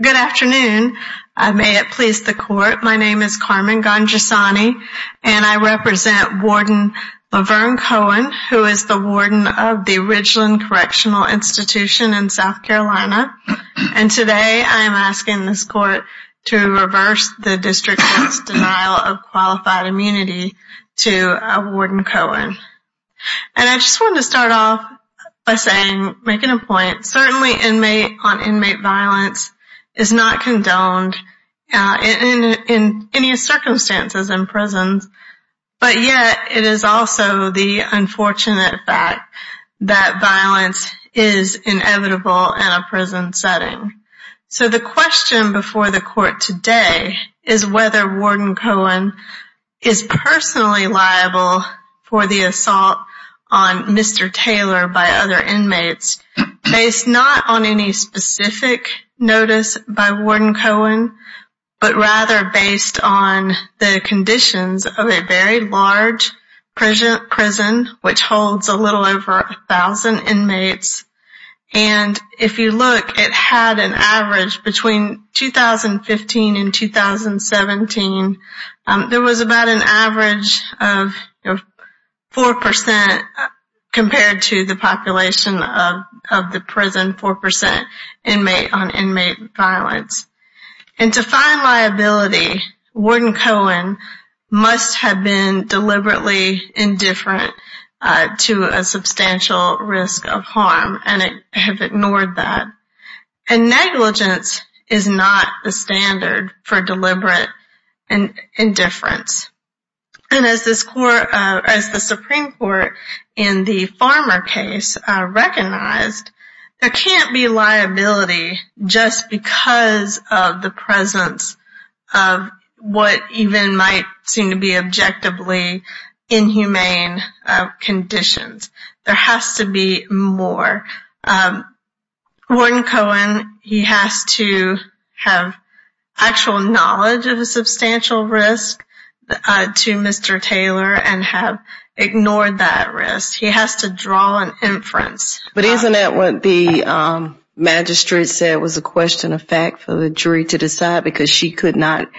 Good afternoon. May it please the court, my name is Carmen Gonjassani, and I represent Warden Levern Cohen, who is the warden of the Ridgeland Correctional Institution in Richmond, Virginia, and I'm here to endorse the district's denial of qualified immunity to Warden Cohen. And I just wanted to start off by saying, making a point, certainly inmate on inmate violence is not condoned in any circumstances in prisons, but yet it is also the unfortunate fact that violence is inevitable in a prison setting. So the question before the court today is whether Warden Cohen is personally liable for the assault on Mr. Taylor by other inmates, based not on any specific notice by Warden Cohen, but rather based on the conditions of a very large prison, which holds a little over a thousand inmates. And if you look, it had an average between 2015 and 2017, there was about an average of 4% compared to the population of the prison, 4% inmate on inmate violence. And to find liability, Warden Cohen must have been deliberately indifferent to a substantial risk of harm, and have ignored that. And negligence is not the standard for deliberate indifference. And as the Supreme Court in the Farmer case recognized, there can't be liability just because of the presence of what even might seem to be objectively inhumane conditions. There has to be more. Warden Cohen, he has to have actual knowledge of a substantial risk to Mr. Taylor and have ignored that risk. He has to draw an inference. But isn't that what the magistrate said was a question of fact for the jury to decide because she could not,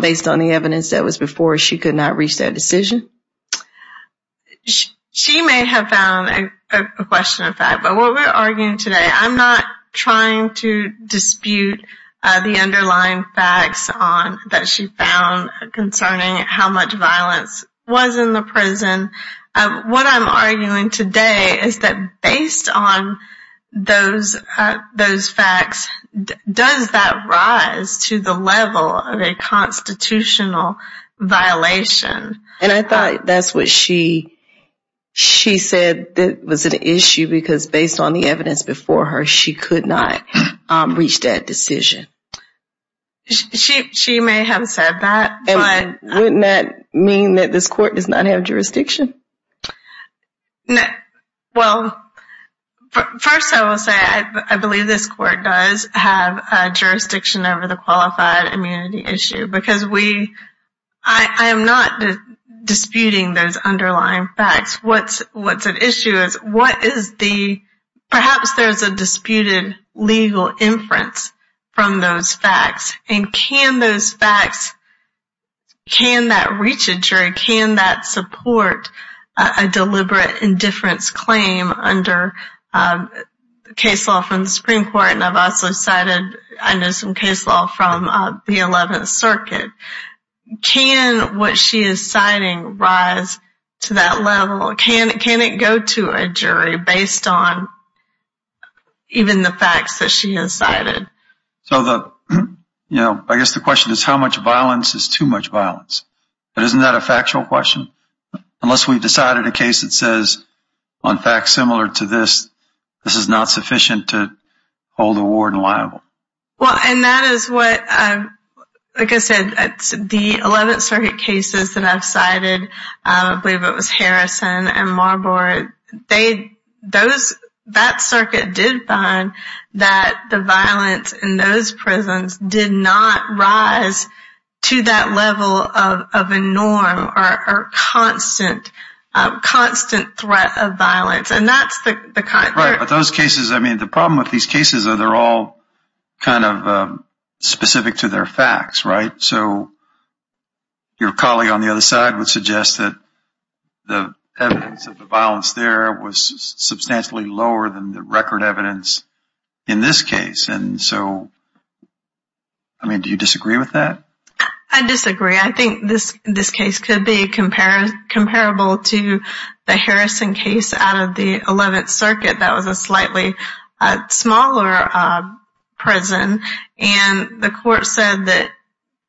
based on the evidence that was before, she could not reach that decision? She may have found a question of fact, but what we're arguing today, I'm not trying to dispute the underlying facts that she found concerning how much violence was in the prison. What I'm arguing today is that based on those facts, does that rise to the level of a constitutional violation? And I thought that's what she said was an issue because based on the evidence before her, she could not reach that decision. She may have said that. And wouldn't that mean that this court does not have jurisdiction? Well, first I will say I believe this court does have jurisdiction over the qualified immunity issue because we, I am not disputing those underlying facts. What's at issue is what is the, perhaps there's a disputed legal inference from those facts. And can those facts, can that reach a jury? Can that support a deliberate indifference claim under case law from the Supreme Court? And I've also cited, I know some case law from the 11th Circuit jury based on even the facts that she has cited. So the, I guess the question is how much violence is too much violence? But isn't that a factual question? Unless we've decided a case that says, on facts similar to this, this is not sufficient to hold a warden liable. Well, and that is what, like I said, the 11th Circuit cases that I've cited, I believe it was Harrison and Marbury, they, those, that circuit did find that the violence in those prisons did not rise to that level of a norm or constant, constant threat of violence. And that's the kind. Right. But those cases, I mean, the problem with these cases are they're all kind of specific to their facts, right? So your colleague on the other side would suggest that the evidence of the violence there was substantially lower than the record evidence in this case. And so, I mean, do you disagree with that? I disagree. I think this, this case could be compared, comparable to the Harrison case out of the 11th Circuit. That was a slightly smaller prison. And the court said that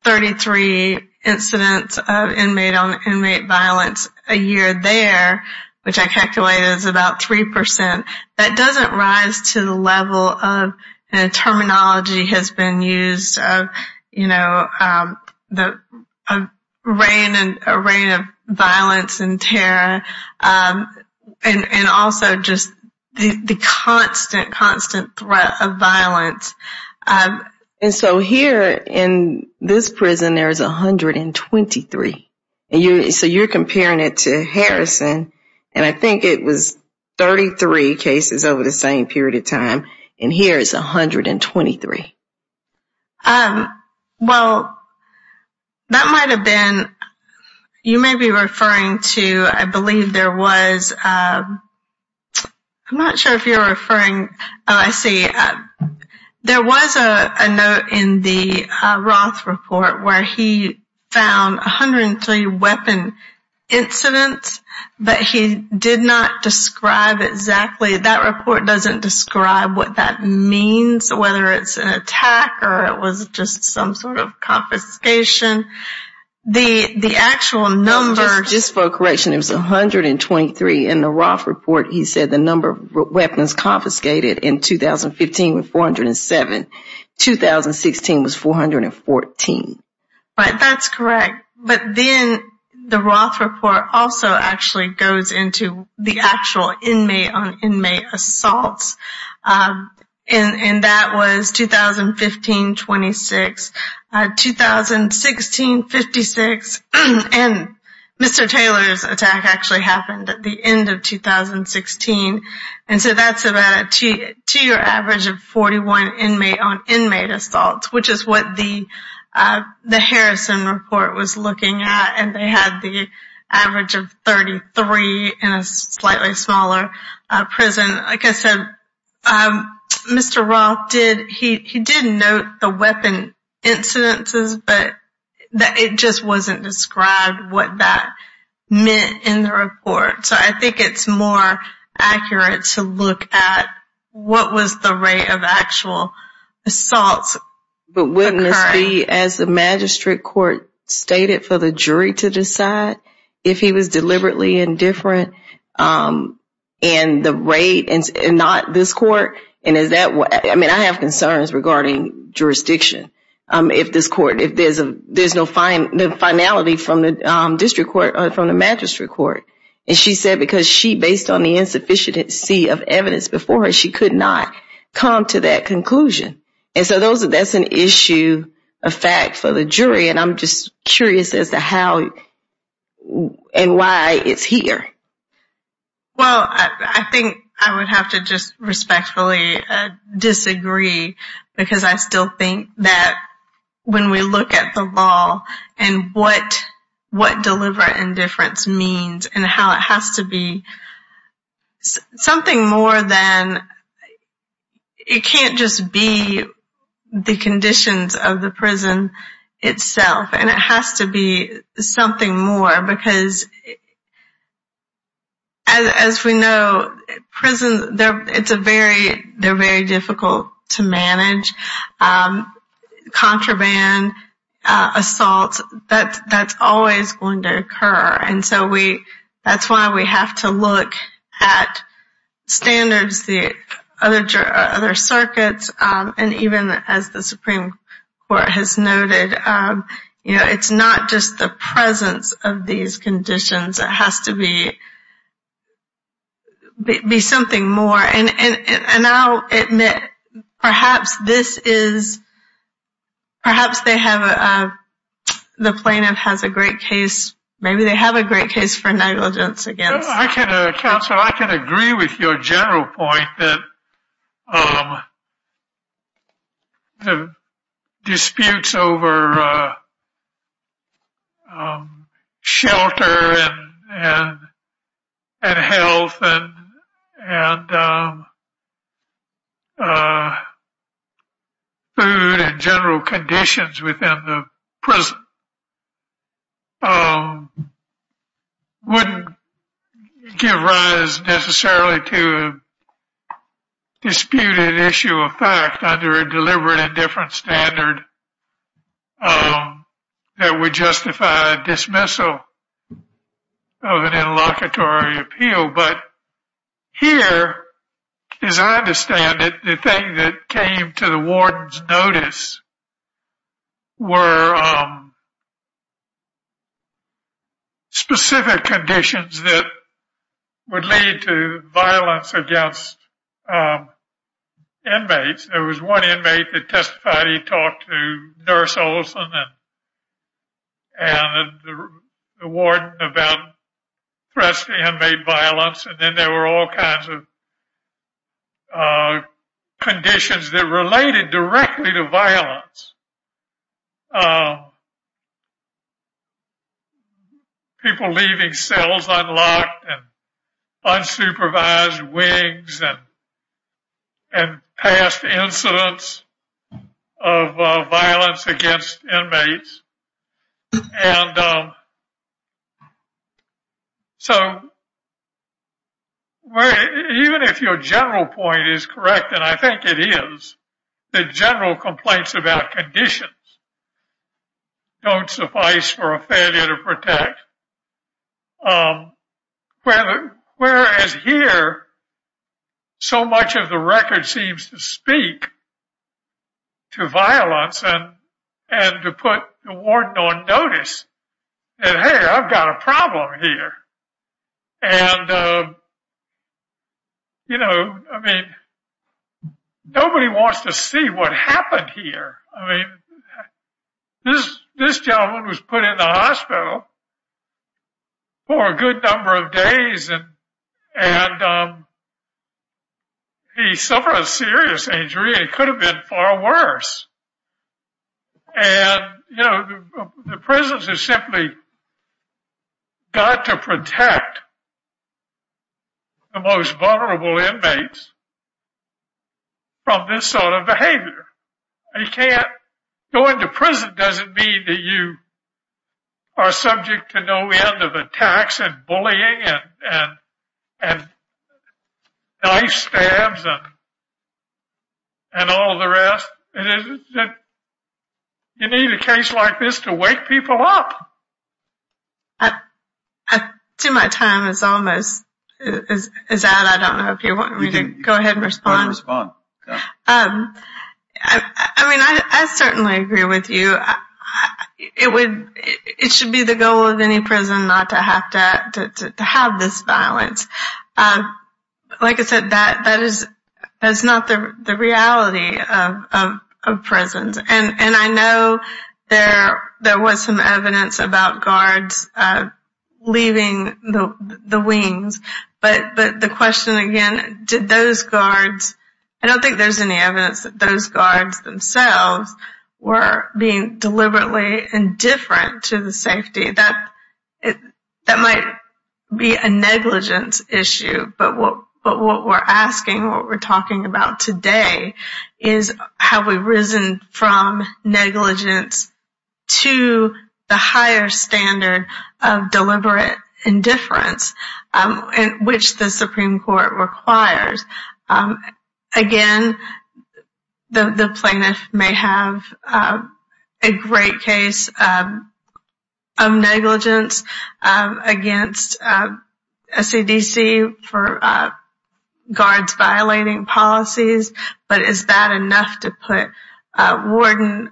33 incidents of inmate on inmate violence a year there, which I calculate is about 3%, that doesn't rise to the level of terminology has been used of, you know, the reign and a reign of violence and terror. And also just the constant, constant threat of violence. And so here in this prison, there is 123. And you, so you're comparing it to Harrison. And I think it was 33 cases over the same period of time. And here is 123. Well, that might have been, you may be referring to, I believe there was, I'm not sure if you're referring, oh, I see. There was a note in the Roth report where he found 103 weapon incidents, but he did not describe exactly, that report doesn't describe what that means, whether it's an attack or it was just some sort of confiscation. The, the actual number... Just for correction, it was 123 in the Roth report. He said the number of weapons confiscated in 2015 was 407. 2016 was 414. Right, that's correct. But then the Roth report also actually goes into the actual inmate on inmate assaults. And that was 2015, 26. 2016, 56. And Mr. Taylor's attack actually happened at the end of 2016. And so that's about a two year average of 41 inmate on inmate assaults, which is what the, the Harrison report was looking at. And they had the average of 33 in a slightly smaller prison. Like I said, Mr. Roth did, he did note the weapon incidences, but it just wasn't described what that meant in the report. So I think it's more accurate to look at what was the rate of actual assaults occurring. But wouldn't this be, as the magistrate court stated, for the jury to decide if he was deliberately indifferent in the rate and not this court? And is that what, I mean, I have concerns regarding jurisdiction. If this court, if there's a, there's no finality from the district court or from the magistrate court. And she said, because she based on the insufficiency of evidence before her, she could not come to that conclusion. And so those are, that's an issue, a fact for the jury. And I'm just curious as to how and why it's here. Well, I think I would have to just respectfully disagree because I still think that when we look at the law and what deliberate indifference means and how it has to be something more than, it can't just be the conditions of the prison itself. And it has to be something more because as we know, prisons, they're, it's a very, they're very difficult to manage. Contraband, assaults, that's always going to occur. And so we, that's why we have to look at standards, the other circuits, and even as the Supreme Court has noted, you know, it's not just the presence of these conditions, it has to be, be something more. And I'll admit, perhaps this is, perhaps they have, the plaintiff has a great case, maybe they have a great case for negligence against. Counselor, I can agree with your general point that the disputes over shelter and health and food and general conditions within the prison wouldn't give rise necessarily to a disputed issue of fact under a deliberate indifference standard that would justify dismissal of an interlocutory appeal. But here, as I understand it, the thing that came to the warden's notice were specific conditions that would lead to violence against inmates. There was one inmate that testified, he talked to Nurse Olson and the warden about inmate violence, and then there were all kinds of conditions that related directly to violence. People leaving cells unlocked and unsupervised wings and past incidents of violence against inmates. And so, even if your general point is correct, and I think it is, the general complaints about conditions don't suffice for a failure to protect. Whereas here, so much of the record seems to speak to violence and to put the warden on notice that, hey, I've got a problem here. And, you know, I mean, nobody wants to see what happened here. I mean, this gentleman was put in the hospital for a good number of days and he suffered a serious injury. It could have been far worse. And, you know, the prisons have simply got to protect the most vulnerable inmates from this sort of behavior. You can't go into prison doesn't mean that you are subject to no end of attacks and bullying and knife stabs and all the rest. You need a case like this to wake people up. I see my time is almost out. I don't know if you want me to go ahead and respond. I mean, I certainly agree with you. It should be the goal of any prison not to have this violence. Like I said, that is not the reality of prisons. And I know there was some evidence about the guards leaving the wings. But the question again, did those guards, I don't think there's any evidence that those guards themselves were being deliberately indifferent to the safety. That might be a negligence issue. But what we're asking, what we're talking about today is have we risen from negligence to the higher standard of deliberate indifference, which the Supreme Court requires. Again, the plaintiff may have a great case of negligence against SEDC for guards violating policies. But is that enough to put Warden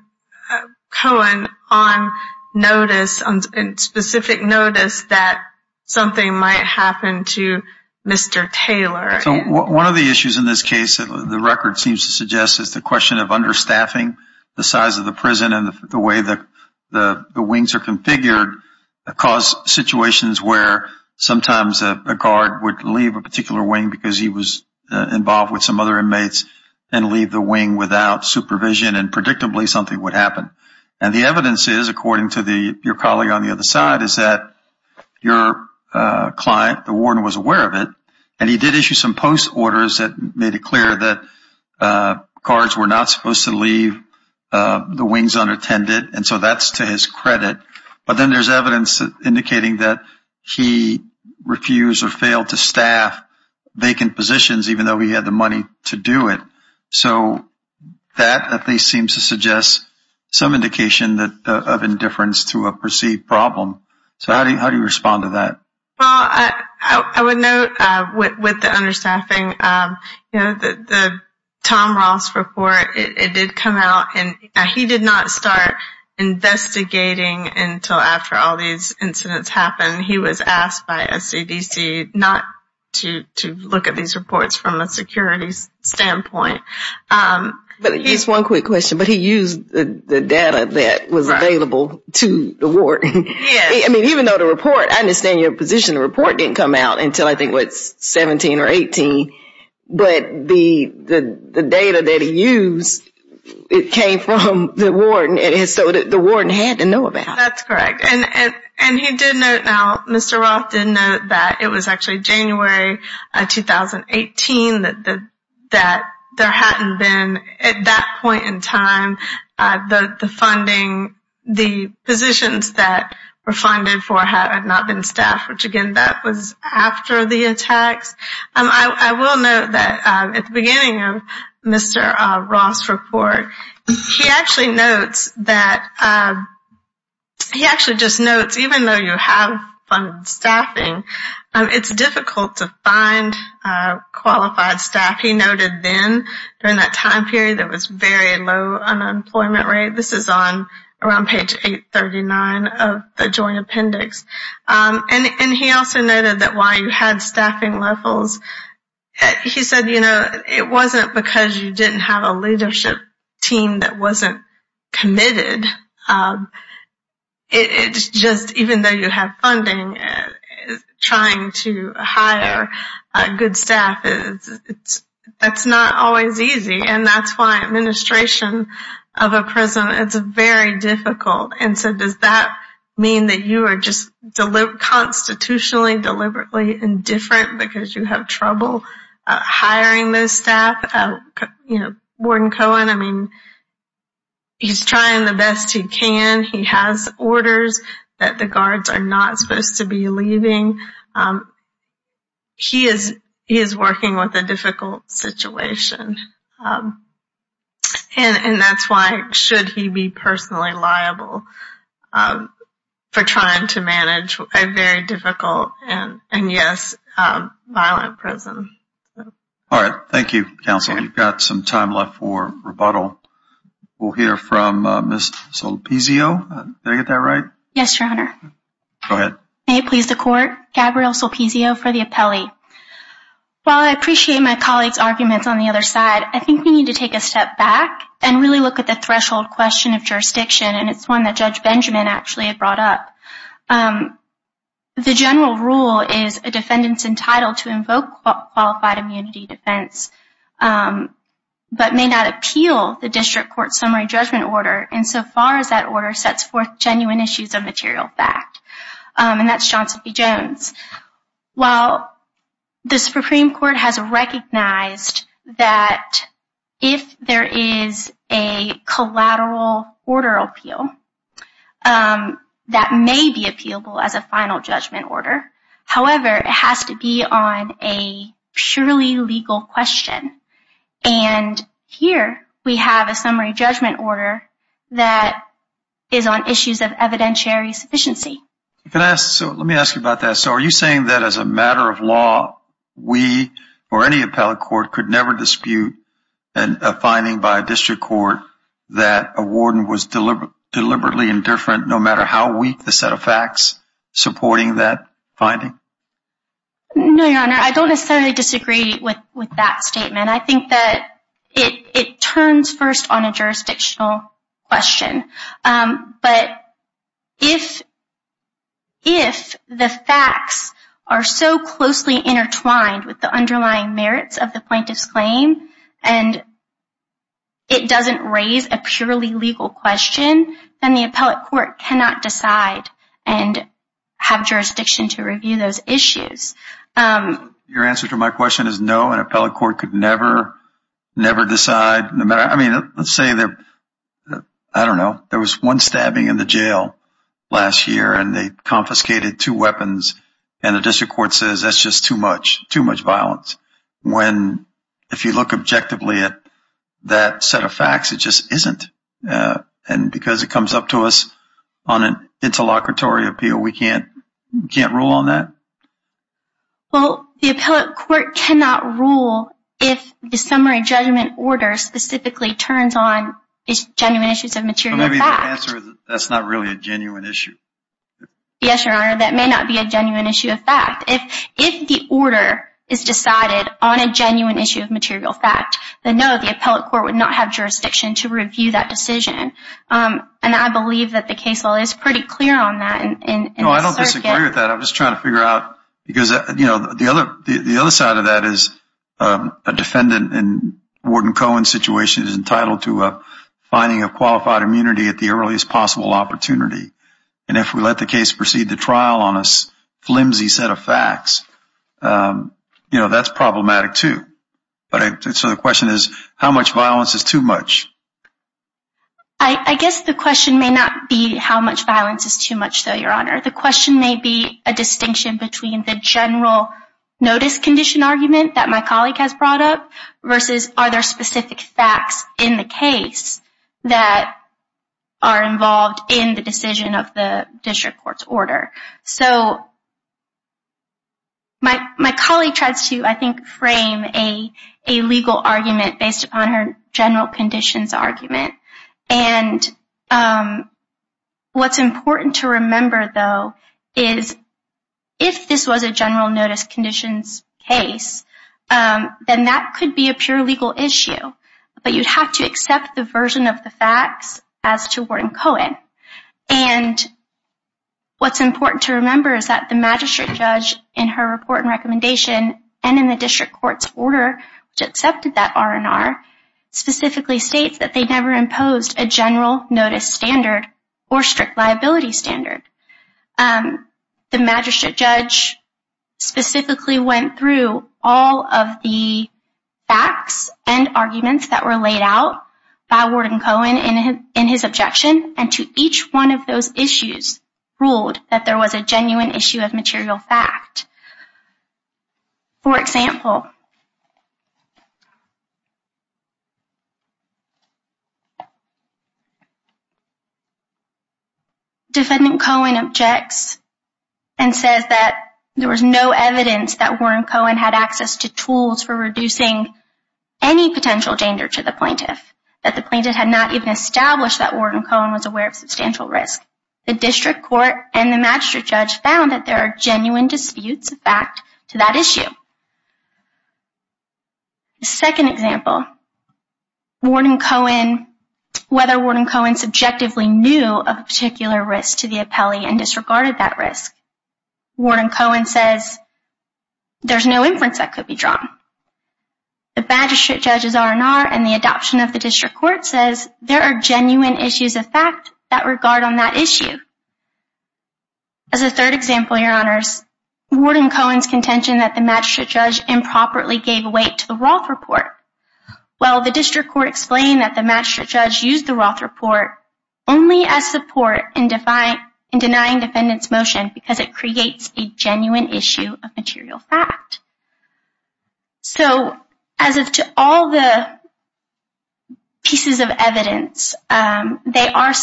Cohen on notice, on specific notice that something might happen to Mr. Taylor? One of the issues in this case that the record seems to suggest is the question of understaffing the size of the prison and the way that the wings are configured cause situations where sometimes a guard would leave a particular wing because he was involved with some other inmates and leave the wing without supervision and predictably something would happen. And the evidence is, according to your colleague on the other side, is that your client, the warden, was aware of it. And he did issue some post orders that made it clear that not supposed to leave the wings unattended. And so that's to his credit. But then there's evidence indicating that he refused or failed to staff vacant positions even though he had the money to do it. So that at least seems to suggest some indication of indifference to a perceived problem. So how do you respond to that? Well, I would note with the understaffing, you know, the Tom Ross report, it did come out. And he did not start investigating until after all these incidents happened. He was asked by SCDC not to look at these reports from a security standpoint. But just one quick question. But he used the data that was available to the ward. I mean, even though the report, I understand your position, the report didn't come out until I think was 17 or 18. But the data that he used, it came from the warden. And so the warden had to know about. That's correct. And he did note now, Mr. Roth did note that it was actually January 2018 that there hadn't been at that point in time, the funding, the positions that were funded for had not been staffed, which again, that was after the attacks. I will note that at the beginning of Mr. Roth's report, he actually notes that he actually just notes, even though you have funded staffing, it's difficult to find qualified staff. He noted then, during that time period, there was very low unemployment rate. This is on around page 839 of the Joint Appendix. And he also noted that while you had staffing levels, he said, you know, it wasn't because you didn't have a leadership team that wasn't committed. It's just even though you have funding trying to hire good staff, that's not always easy. And that's why administration of a prison, it's very difficult. And so does that mean that you are just constitutionally, deliberately indifferent because you have trouble hiring those staff? You know, Warden Cohen, I mean, he's trying the best he can. He has orders that the guards are not supposed to be leaving. He is working with a difficult situation. And that's why, should he be personally liable for trying to manage a very difficult and, yes, violent prison. All right. Thank you, Counsel. We've got some time left for rebuttal. We'll hear from Ms. Solipizio. Did I get that right? Yes, Your Honor. Go ahead. May it please the Court, Gabrielle Solipizio for the appellee. While I appreciate my colleague's arguments on the other side, I think we need to take a step back and really look at the threshold question of jurisdiction. And it's one that Judge Benjamin actually had brought up. The general rule is a defendant's entitled to invoke qualified immunity defense, but may not appeal the district court summary judgment order insofar as that order sets genuine issues of material fact. And that's Johnson v. Jones. While the Supreme Court has recognized that if there is a collateral order appeal, that may be appealable as a final judgment order. However, it has to be on a surely legal question. And here we have a summary judgment order that is on issues of evidentiary sufficiency. Let me ask you about that. So are you saying that as a matter of law, we or any appellate court could never dispute a finding by a district court that a warden was deliberately indifferent no matter how weak the set of facts supporting that finding? No, Your Honor. I don't necessarily disagree with that statement. I think that it turns first on a jurisdictional question. But if the facts are so closely intertwined with the underlying merits of the plaintiff's claim, and it doesn't raise a purely legal question, then the appellate court cannot decide and have jurisdiction to review those issues. Your answer to my question is no, an appellate court could never decide. I mean, let's say that, I don't know, there was one stabbing in the jail last year, and they confiscated two weapons, and the district court says that's just too much violence. If you look objectively at that set of facts, it just isn't. And because it comes up to us on an interlocutory appeal, we can't rule on that? Well, the appellate court cannot rule if the summary judgment order specifically turns on genuine issues of material facts. That's not really a genuine issue. Yes, Your Honor, that may not be a genuine issue of fact. If the order is decided on a genuine issue of material fact, then no, the appellate court would not have jurisdiction to review that case. No, I don't disagree with that. I'm just trying to figure out, because the other side of that is a defendant in Warden Cohen's situation is entitled to a finding of qualified immunity at the earliest possible opportunity. And if we let the case proceed to trial on a flimsy set of facts, that's problematic too. So the question is, how much violence is too much? I guess the violence is too much though, Your Honor. The question may be a distinction between the general notice condition argument that my colleague has brought up versus are there specific facts in the case that are involved in the decision of the district court's order. So my colleague tries to, I think, frame a legal argument based upon her general conditions argument. And what's important to remember though is if this was a general notice conditions case, then that could be a pure legal issue. But you'd have to accept the version of the facts as to Warden Cohen. And what's important to remember is that the magistrate judge in her report and recommendation and in the district court's order, which accepted that R&R, specifically states that they never imposed a general notice standard or strict liability standard. The magistrate judge specifically went through all of the facts and arguments that were laid out by Warden Cohen in his objection and to each one of those issues ruled that there was a general notice standard or strict liability standard. Defendant Cohen objects and says that there was no evidence that Warden Cohen had access to tools for reducing any potential danger to the plaintiff, that the plaintiff had not even established that Warden Cohen was aware of substantial risk. The district court and the magistrate judge found that there are genuine disputes of fact to that issue. The second example, whether Warden Cohen subjectively knew of a particular risk to the appellee and disregarded that risk. Warden Cohen says there's no inference that could be drawn. The magistrate judge's R&R and the adoption of the district court says there are genuine issues of fact that regard on that issue. As a third example, your honors, Warden Cohen's contention that the magistrate judge improperly gave weight to the Roth report. Well, the district court explained that the magistrate judge used the Roth report only as support in denying defendant's motion because it creates a genuine issue of material fact. So, as to all the pieces of evidence, they are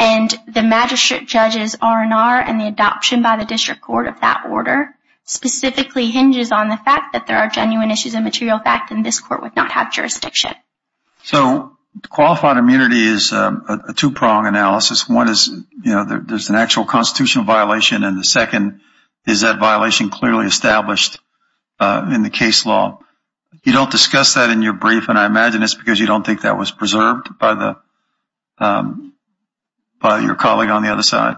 and the magistrate judge's R&R and the adoption by the district court of that order specifically hinges on the fact that there are genuine issues of material fact and this court would not have jurisdiction. So, qualified immunity is a two-pronged analysis. One is, you know, there's an actual constitutional violation and the second is that violation clearly established in the case law. You don't discuss that in your brief and I imagine it's because you don't think that was by your colleague on the other side.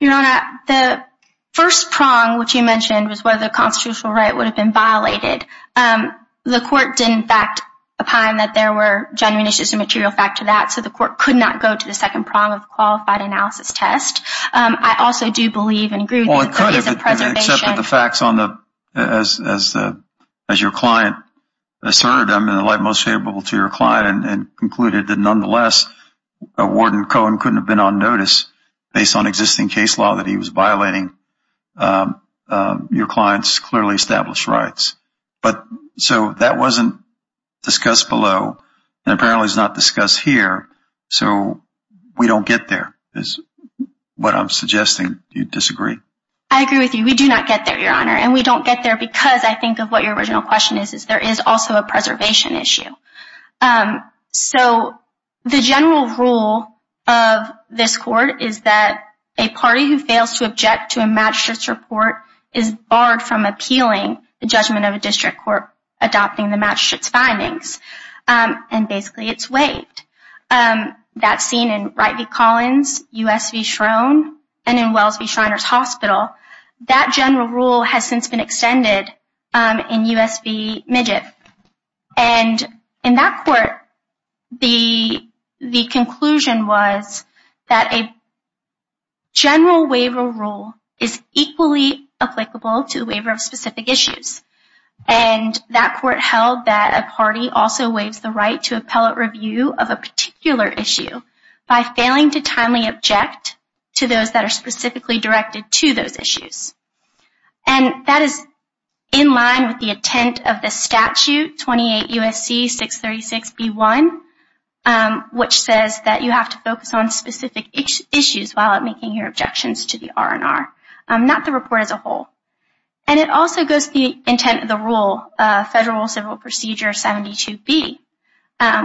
Your honor, the first prong which you mentioned was whether the constitutional right would have been violated. The court didn't fact upon that there were genuine issues of material fact to that, so the court could not go to the second prong of qualified analysis test. I also do believe and agree with the preservation. Well, I could have accepted the facts on the, as your client asserted, I'm in the light most favorable to your client and concluded that nonetheless a warden Cohen couldn't have been on notice based on existing case law that he was violating your client's clearly established rights, but so that wasn't discussed below and apparently is not discussed here, so we don't get there is what I'm suggesting. Do you disagree? I agree with you. We do not get there, your honor, and we don't get there because I think of what your original question is, is there is also a preservation issue. So the general rule of this court is that a party who fails to object to a magistrate's report is barred from appealing the judgment of a district court adopting the magistrate's findings and basically it's waived. That's seen in Wright v. Collins, U.S. v. Schroen, and in Wells v. Shriners Hospital. That general rule has since been extended in U.S. v. Midget and in that court the conclusion was that a general waiver rule is equally applicable to the waiver of specific issues and that court held that a party also waives the right to appellate review of a particular issue by failing to appeal to a district court that is specifically directed to those issues. And that is in line with the intent of the statute, 28 U.S.C. 636 B.1, which says that you have to focus on specific issues while making your objections to the R&R, not the report as a whole. And it also goes to the intent of the rule, Federal Civil Procedure 72B,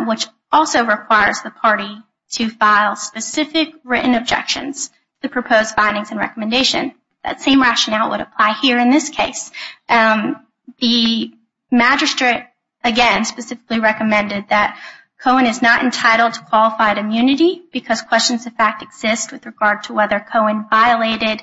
which also requires the party to file specific written objections to proposed findings and recommendations. That same rationale would apply here in this case. The magistrate, again, specifically recommended that Cohen is not entitled to qualified immunity because questions of fact exist with regard to whether Cohen violated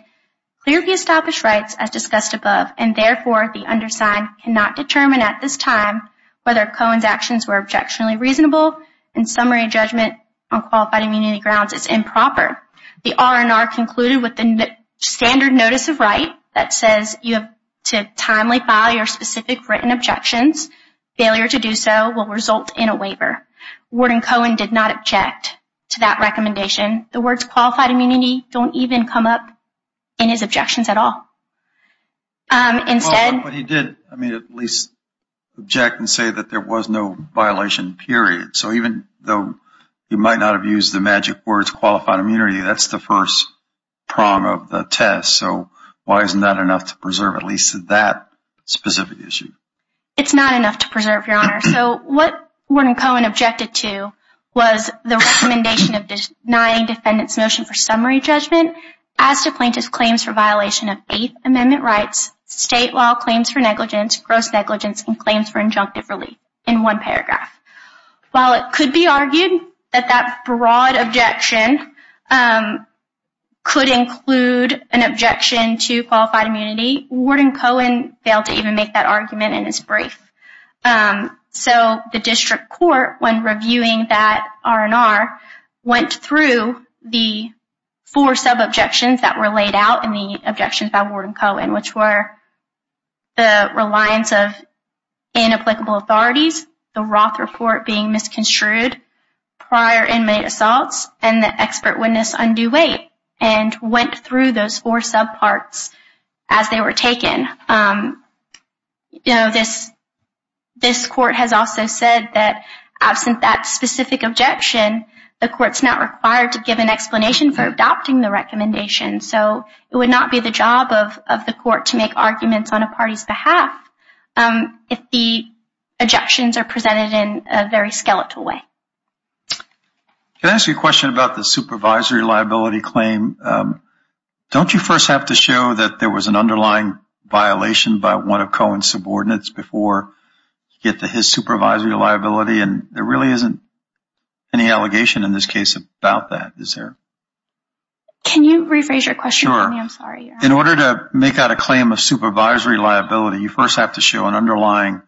clearly established rights as discussed above and therefore the undersigned cannot determine at this time whether Cohen's actions were objectionably reasonable and summary judgment on qualified immunity grounds is improper. The R&R concluded with the standard notice of right that says you have to timely file your specific written objections. Failure to do so will result in a waiver. Warden Cohen did not object to that recommendation. The words qualified immunity don't even come up in his objections at all. But he did at least object and say that there was no violation period. So even though he might not have used the magic words qualified immunity, that's the first prong of the test. So why isn't that enough to preserve at least that specific issue? It's not enough to preserve, Your Honor. So what Warden Cohen objected to was the recommendation of denying defendant's motion for summary judgment as to plaintiff's claims for violation of Eighth Amendment rights state law claims for negligence, gross negligence, and claims for injunctive relief in one paragraph. While it could be argued that that broad objection could include an objection to qualified immunity, Warden Cohen failed to even make that argument in his brief. So the district court when reviewing that R&R went through the four sub-objections that were the reliance of inapplicable authorities, the Roth report being misconstrued, prior inmate assaults, and the expert witness undue weight and went through those four sub-parts as they were taken. You know, this court has also said that absent that specific objection, the court's not required to give an explanation for adopting the recommendation. So it would not the job of the court to make arguments on a party's behalf if the objections are presented in a very skeletal way. Can I ask you a question about the supervisory liability claim? Don't you first have to show that there was an underlying violation by one of Cohen's subordinates before you get to his supervisory liability? And there really isn't any allegation in this case about that, is there? Can you rephrase your question for me? I'm sorry. In order to make out a claim of supervisory liability, you first have to show an underlying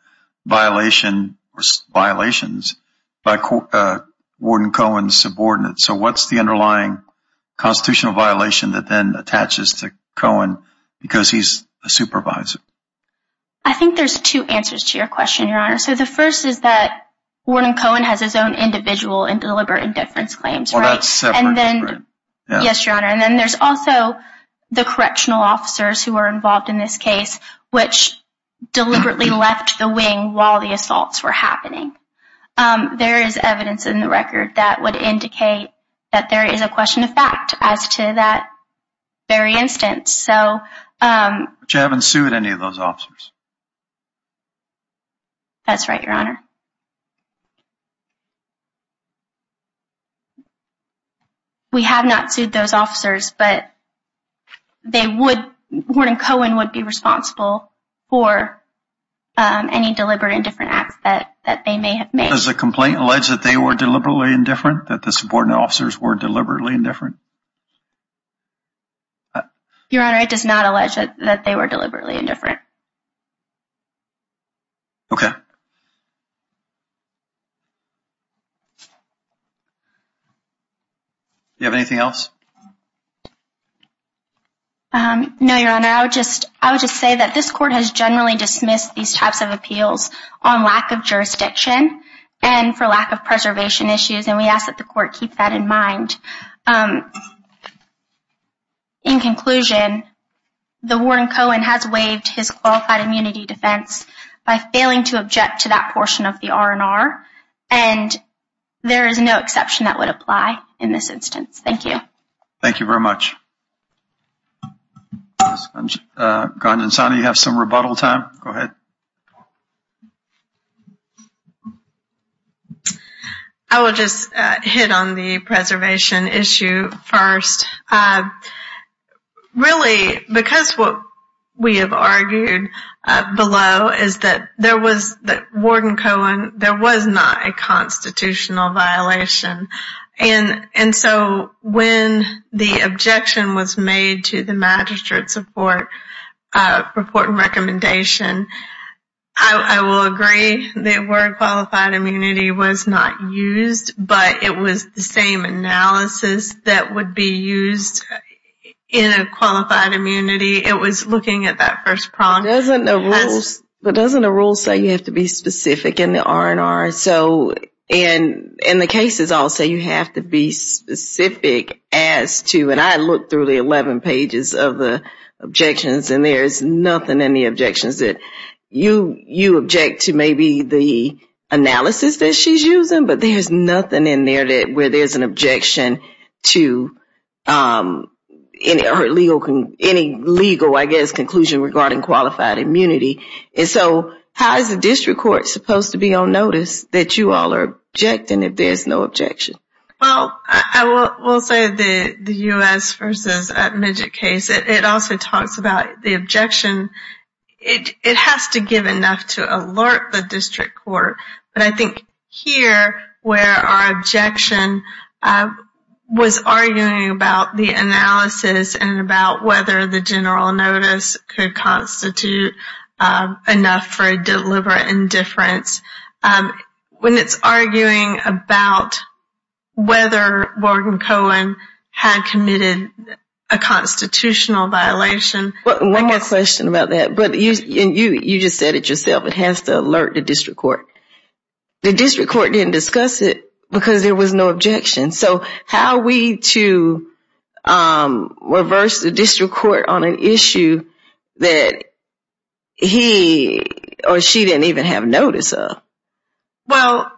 violation or violations by Warden Cohen's subordinates. So what's the underlying constitutional violation that then attaches to Cohen because he's a supervisor? I think there's two answers to your question, Your Honor. So the And then, yes, Your Honor. And then there's also the correctional officers who were involved in this case which deliberately left the wing while the assaults were happening. There is evidence in the record that would indicate that there is a question of fact as to that very instance. So But you haven't sued any of those officers? That's right, Your Honor. We have not sued those officers, but Warden Cohen would be responsible for any deliberate indifferent acts that they may have made. Does the complaint allege that they were deliberately indifferent? That the subordinate officers were deliberately indifferent? Your Honor, it does not allege that they were deliberately indifferent. Okay. Do you have anything else? No, Your Honor. I would just say that this court has generally dismissed these types of appeals on lack of jurisdiction and for lack of preservation issues, and we ask that the court keep that in mind. In conclusion, the Warden Cohen has waived his qualified immunity defense by failing to object to that portion of the R&R, and there is no exception that would apply in this instance. Thank you. Thank you very much. Ghanjansani, you have some rebuttal time. Go ahead. I will just hit on the preservation issue first. Really, because what we have argued below is that Warden Cohen, there was not a constitutional violation, and so when the I will agree that word qualified immunity was not used, but it was the same analysis that would be used in a qualified immunity. It was looking at that first prompt. But doesn't a rule say you have to be specific in the R&R? And the cases all say you have to be specific as to, and I looked through the 11 pages of the objections, and there is nothing in the you object to maybe the analysis that she is using, but there is nothing in there where there is an objection to any legal, I guess, conclusion regarding qualified immunity. And so how is the district court supposed to be on notice that you all are objecting if there is no objection? Well, I will say the U.S. versus Midget case, it also talks about the objection. It has to give enough to alert the district court, but I think here where our objection was arguing about the analysis and about whether the general notice could constitute enough for a deliberate indifference, when it is arguing about whether Warden Cohen had committed a constitutional violation. One more question about that. You just said it yourself, it has to alert the district court. The district court did not discuss it because there was no objection. So how are we to reverse the district court on an issue that he or she did not even have notice of? Well,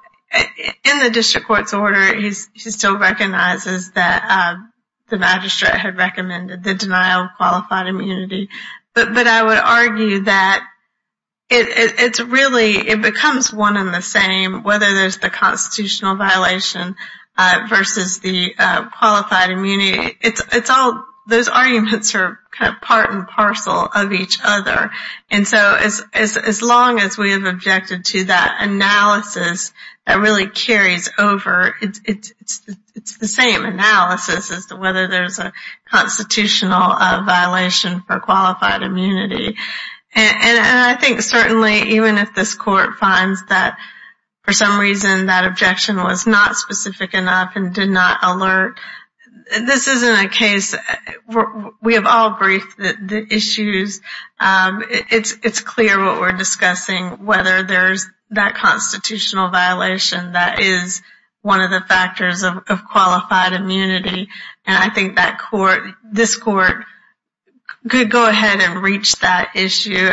in the district court's order, he still recognizes that the magistrate had recommended the denial of qualified immunity, but I would argue that it really becomes one and the same whether there is the constitutional violation versus the qualified immunity. Those arguments are part and parcel of each other. As long as we have objected to that analysis, that really carries over. It is the same analysis as to whether there is a constitutional violation for qualified immunity. I think certainly even if this court finds that for some reason that did not alert, this is not a case where we have all briefed the issues. It is clear what we are discussing, whether there is that constitutional violation that is one of the factors of qualified immunity. I think this court could go ahead and reach that issue.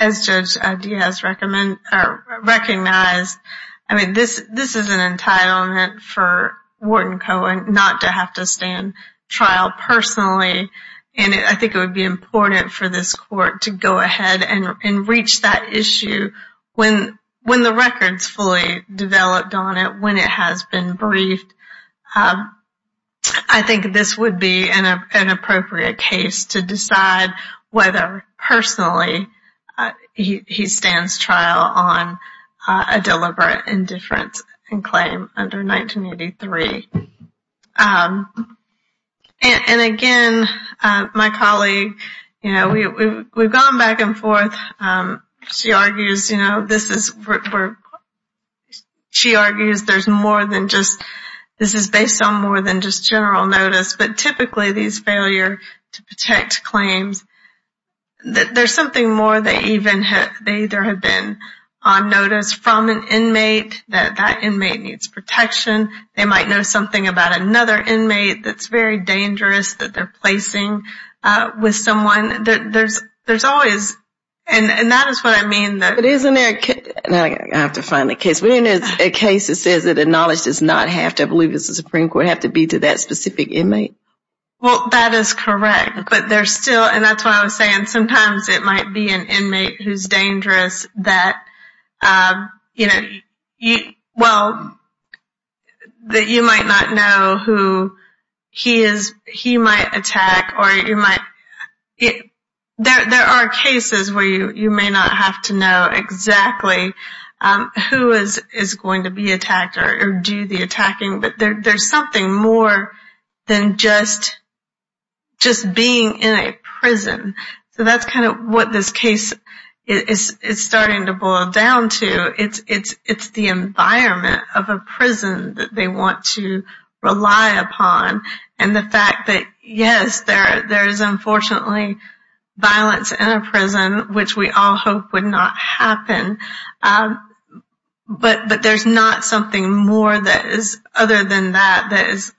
As Judge Diaz has recognized, this is an entitlement for Wharton Cohen not to have to stand trial personally. I think it would be important for this court to go ahead and reach that issue when the record is fully developed on it, when it has been briefed. I think this would be an on a deliberate indifference claim under 1983. Again, my colleague, we have gone back and forth. She argues this is based on more than just general notice, but typically these failure to protect claims, there is something more. They either have been on notice from an inmate, that that inmate needs protection. They might know something about another inmate that is very dangerous that they are placing with someone. There is always, and that is what I mean. But isn't there, I have to find the case, but isn't there a case that says that the knowledge does not have to, I believe it is the Supreme Court, have to be to that specific inmate? That is correct. That is why I was saying sometimes it might be an inmate who is dangerous that you might not know who he might attack. There are cases where you may not have to know exactly who is going to be attacked or do the attacking, but there is something more than just being in a prison. That is what this case is starting to boil down to. It is the environment of a prison that they want to rely upon and the fact that, yes, there is unfortunately violence in a prison, which we all hope would not happen, but there is not something more than that that is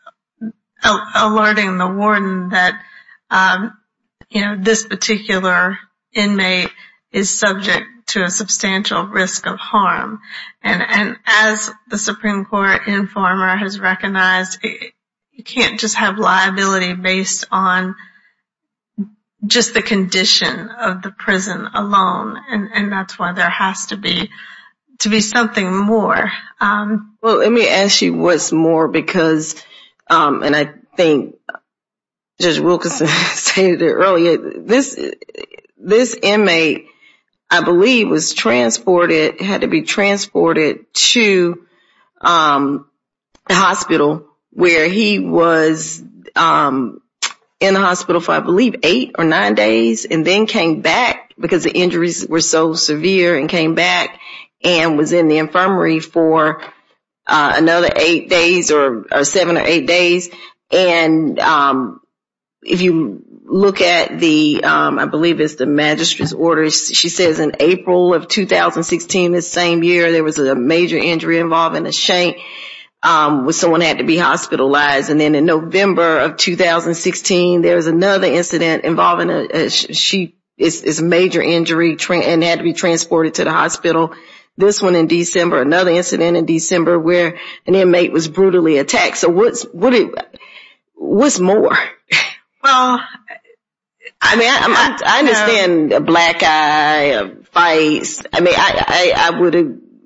alerting the warden that this particular inmate is subject to a substantial risk of harm. As the Supreme Court informer has recognized, you cannot just have liability based on just the condition of the prison alone. That is why there has to be something more. Let me ask you what is more because, and I think Judge Wilkinson stated it earlier, this inmate, I believe, had to be transported to the hospital where he was in the hospital for, I believe, eight or nine days and then came back because the injuries were so severe and came back and was in the infirmary for another eight days or seven or eight days. If you look at the, I believe it is the magistrate's order, she says in April of 2016, the same year, there was a major injury involving a shank where someone had to be hospitalized. And then in November of 2016, there was another incident involving, she, it's a major injury and had to be transported to the hospital. This one in December, another incident in December where an inmate was brutally attacked. So what's more? Well, I mean, I understand a black eye, a face. I mean, I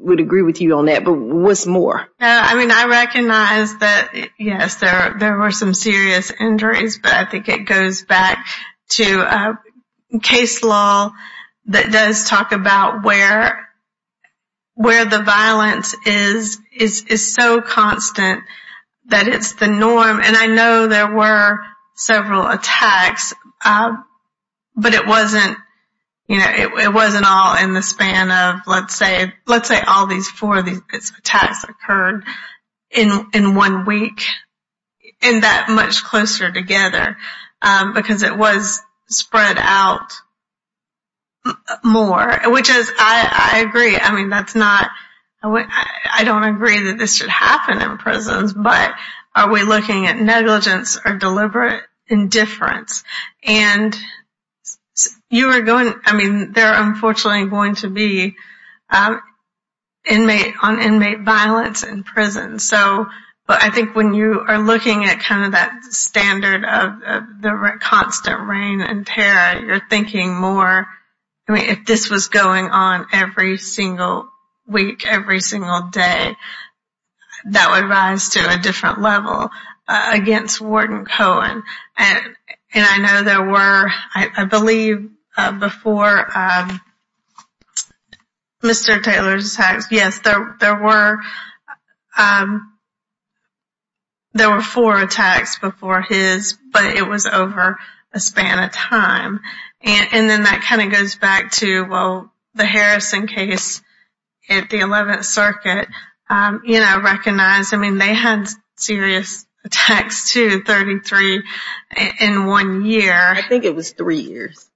would agree with you on that, but what's more? I mean, I recognize that, yes, there were some serious injuries, but I think it goes back to case law that does talk about where the violence is so constant that it's the norm. And I know there were several attacks, but it wasn't, you know, it wasn't all in the span of, let's say all these four attacks occurred in one week, in that much closer together, because it was spread out more, which is, I agree. I mean, that's not, I don't agree that this should happen in prisons, but are we looking at negligence or deliberate indifference? And you are going, I mean, there are unfortunately going to be inmate, on inmate violence in prison. So, but I think when you are looking at kind of that standard of the constant rain and terror, you're thinking more, I mean, if this was going on every single week, every single day, that would rise to a different level against Ward and Cohen. And I know there were, I believe, before Mr. Taylor's attacks, yes, there were four attacks before his, but it was over a span of time. And then that kind of goes back to, well, the Harrison case at the 11th circuit, you know, recognize, I mean, they had serious attacks too, 33 in one year. I think it was three years.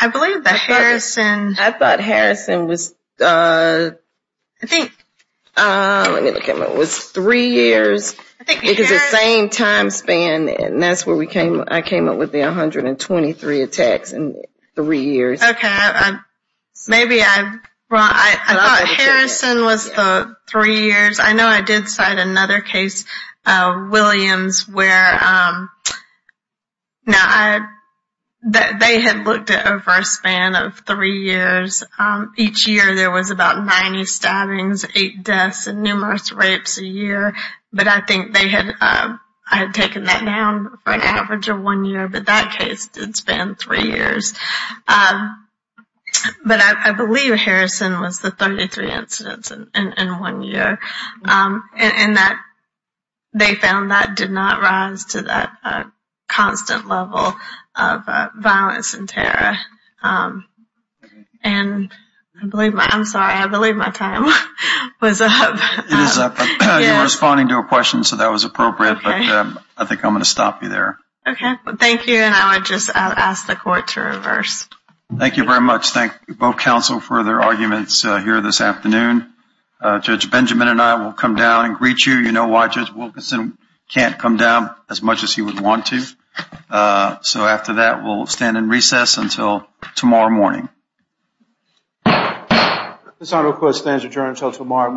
I believe that Harrison. I thought Harrison was, I think it was three years, because the same time span, and that's where we came, I came up with the 123 attacks in three years. Okay. Maybe I, well, I thought Harrison was the three years. I know I did cite another case, Williams, where, now I, they had looked at over a span of three years. Each year there was about 90 stabbings, eight deaths, and numerous rapes a year. But I think they had, I had taken that down for an average of one year, but that case did span three years. But I believe Harrison was the 33 incidents in one year. And that, they found that did not rise to that constant level of violence and terror. And I believe, I'm sorry, I believe my time was up. It is up. You were responding to a question, so that was appropriate. But I think I'm going to stop you there. Okay. Thank you. And I would just ask the court to reverse. Thank you very much. Thank both counsel for their arguments here this afternoon. Judge Benjamin and I will come down and greet you. You know why Judge Wilkinson can't come down as much as he would want to. So after that, we'll stand in recess until tomorrow morning. This honorable court stands adjourned until tomorrow morning.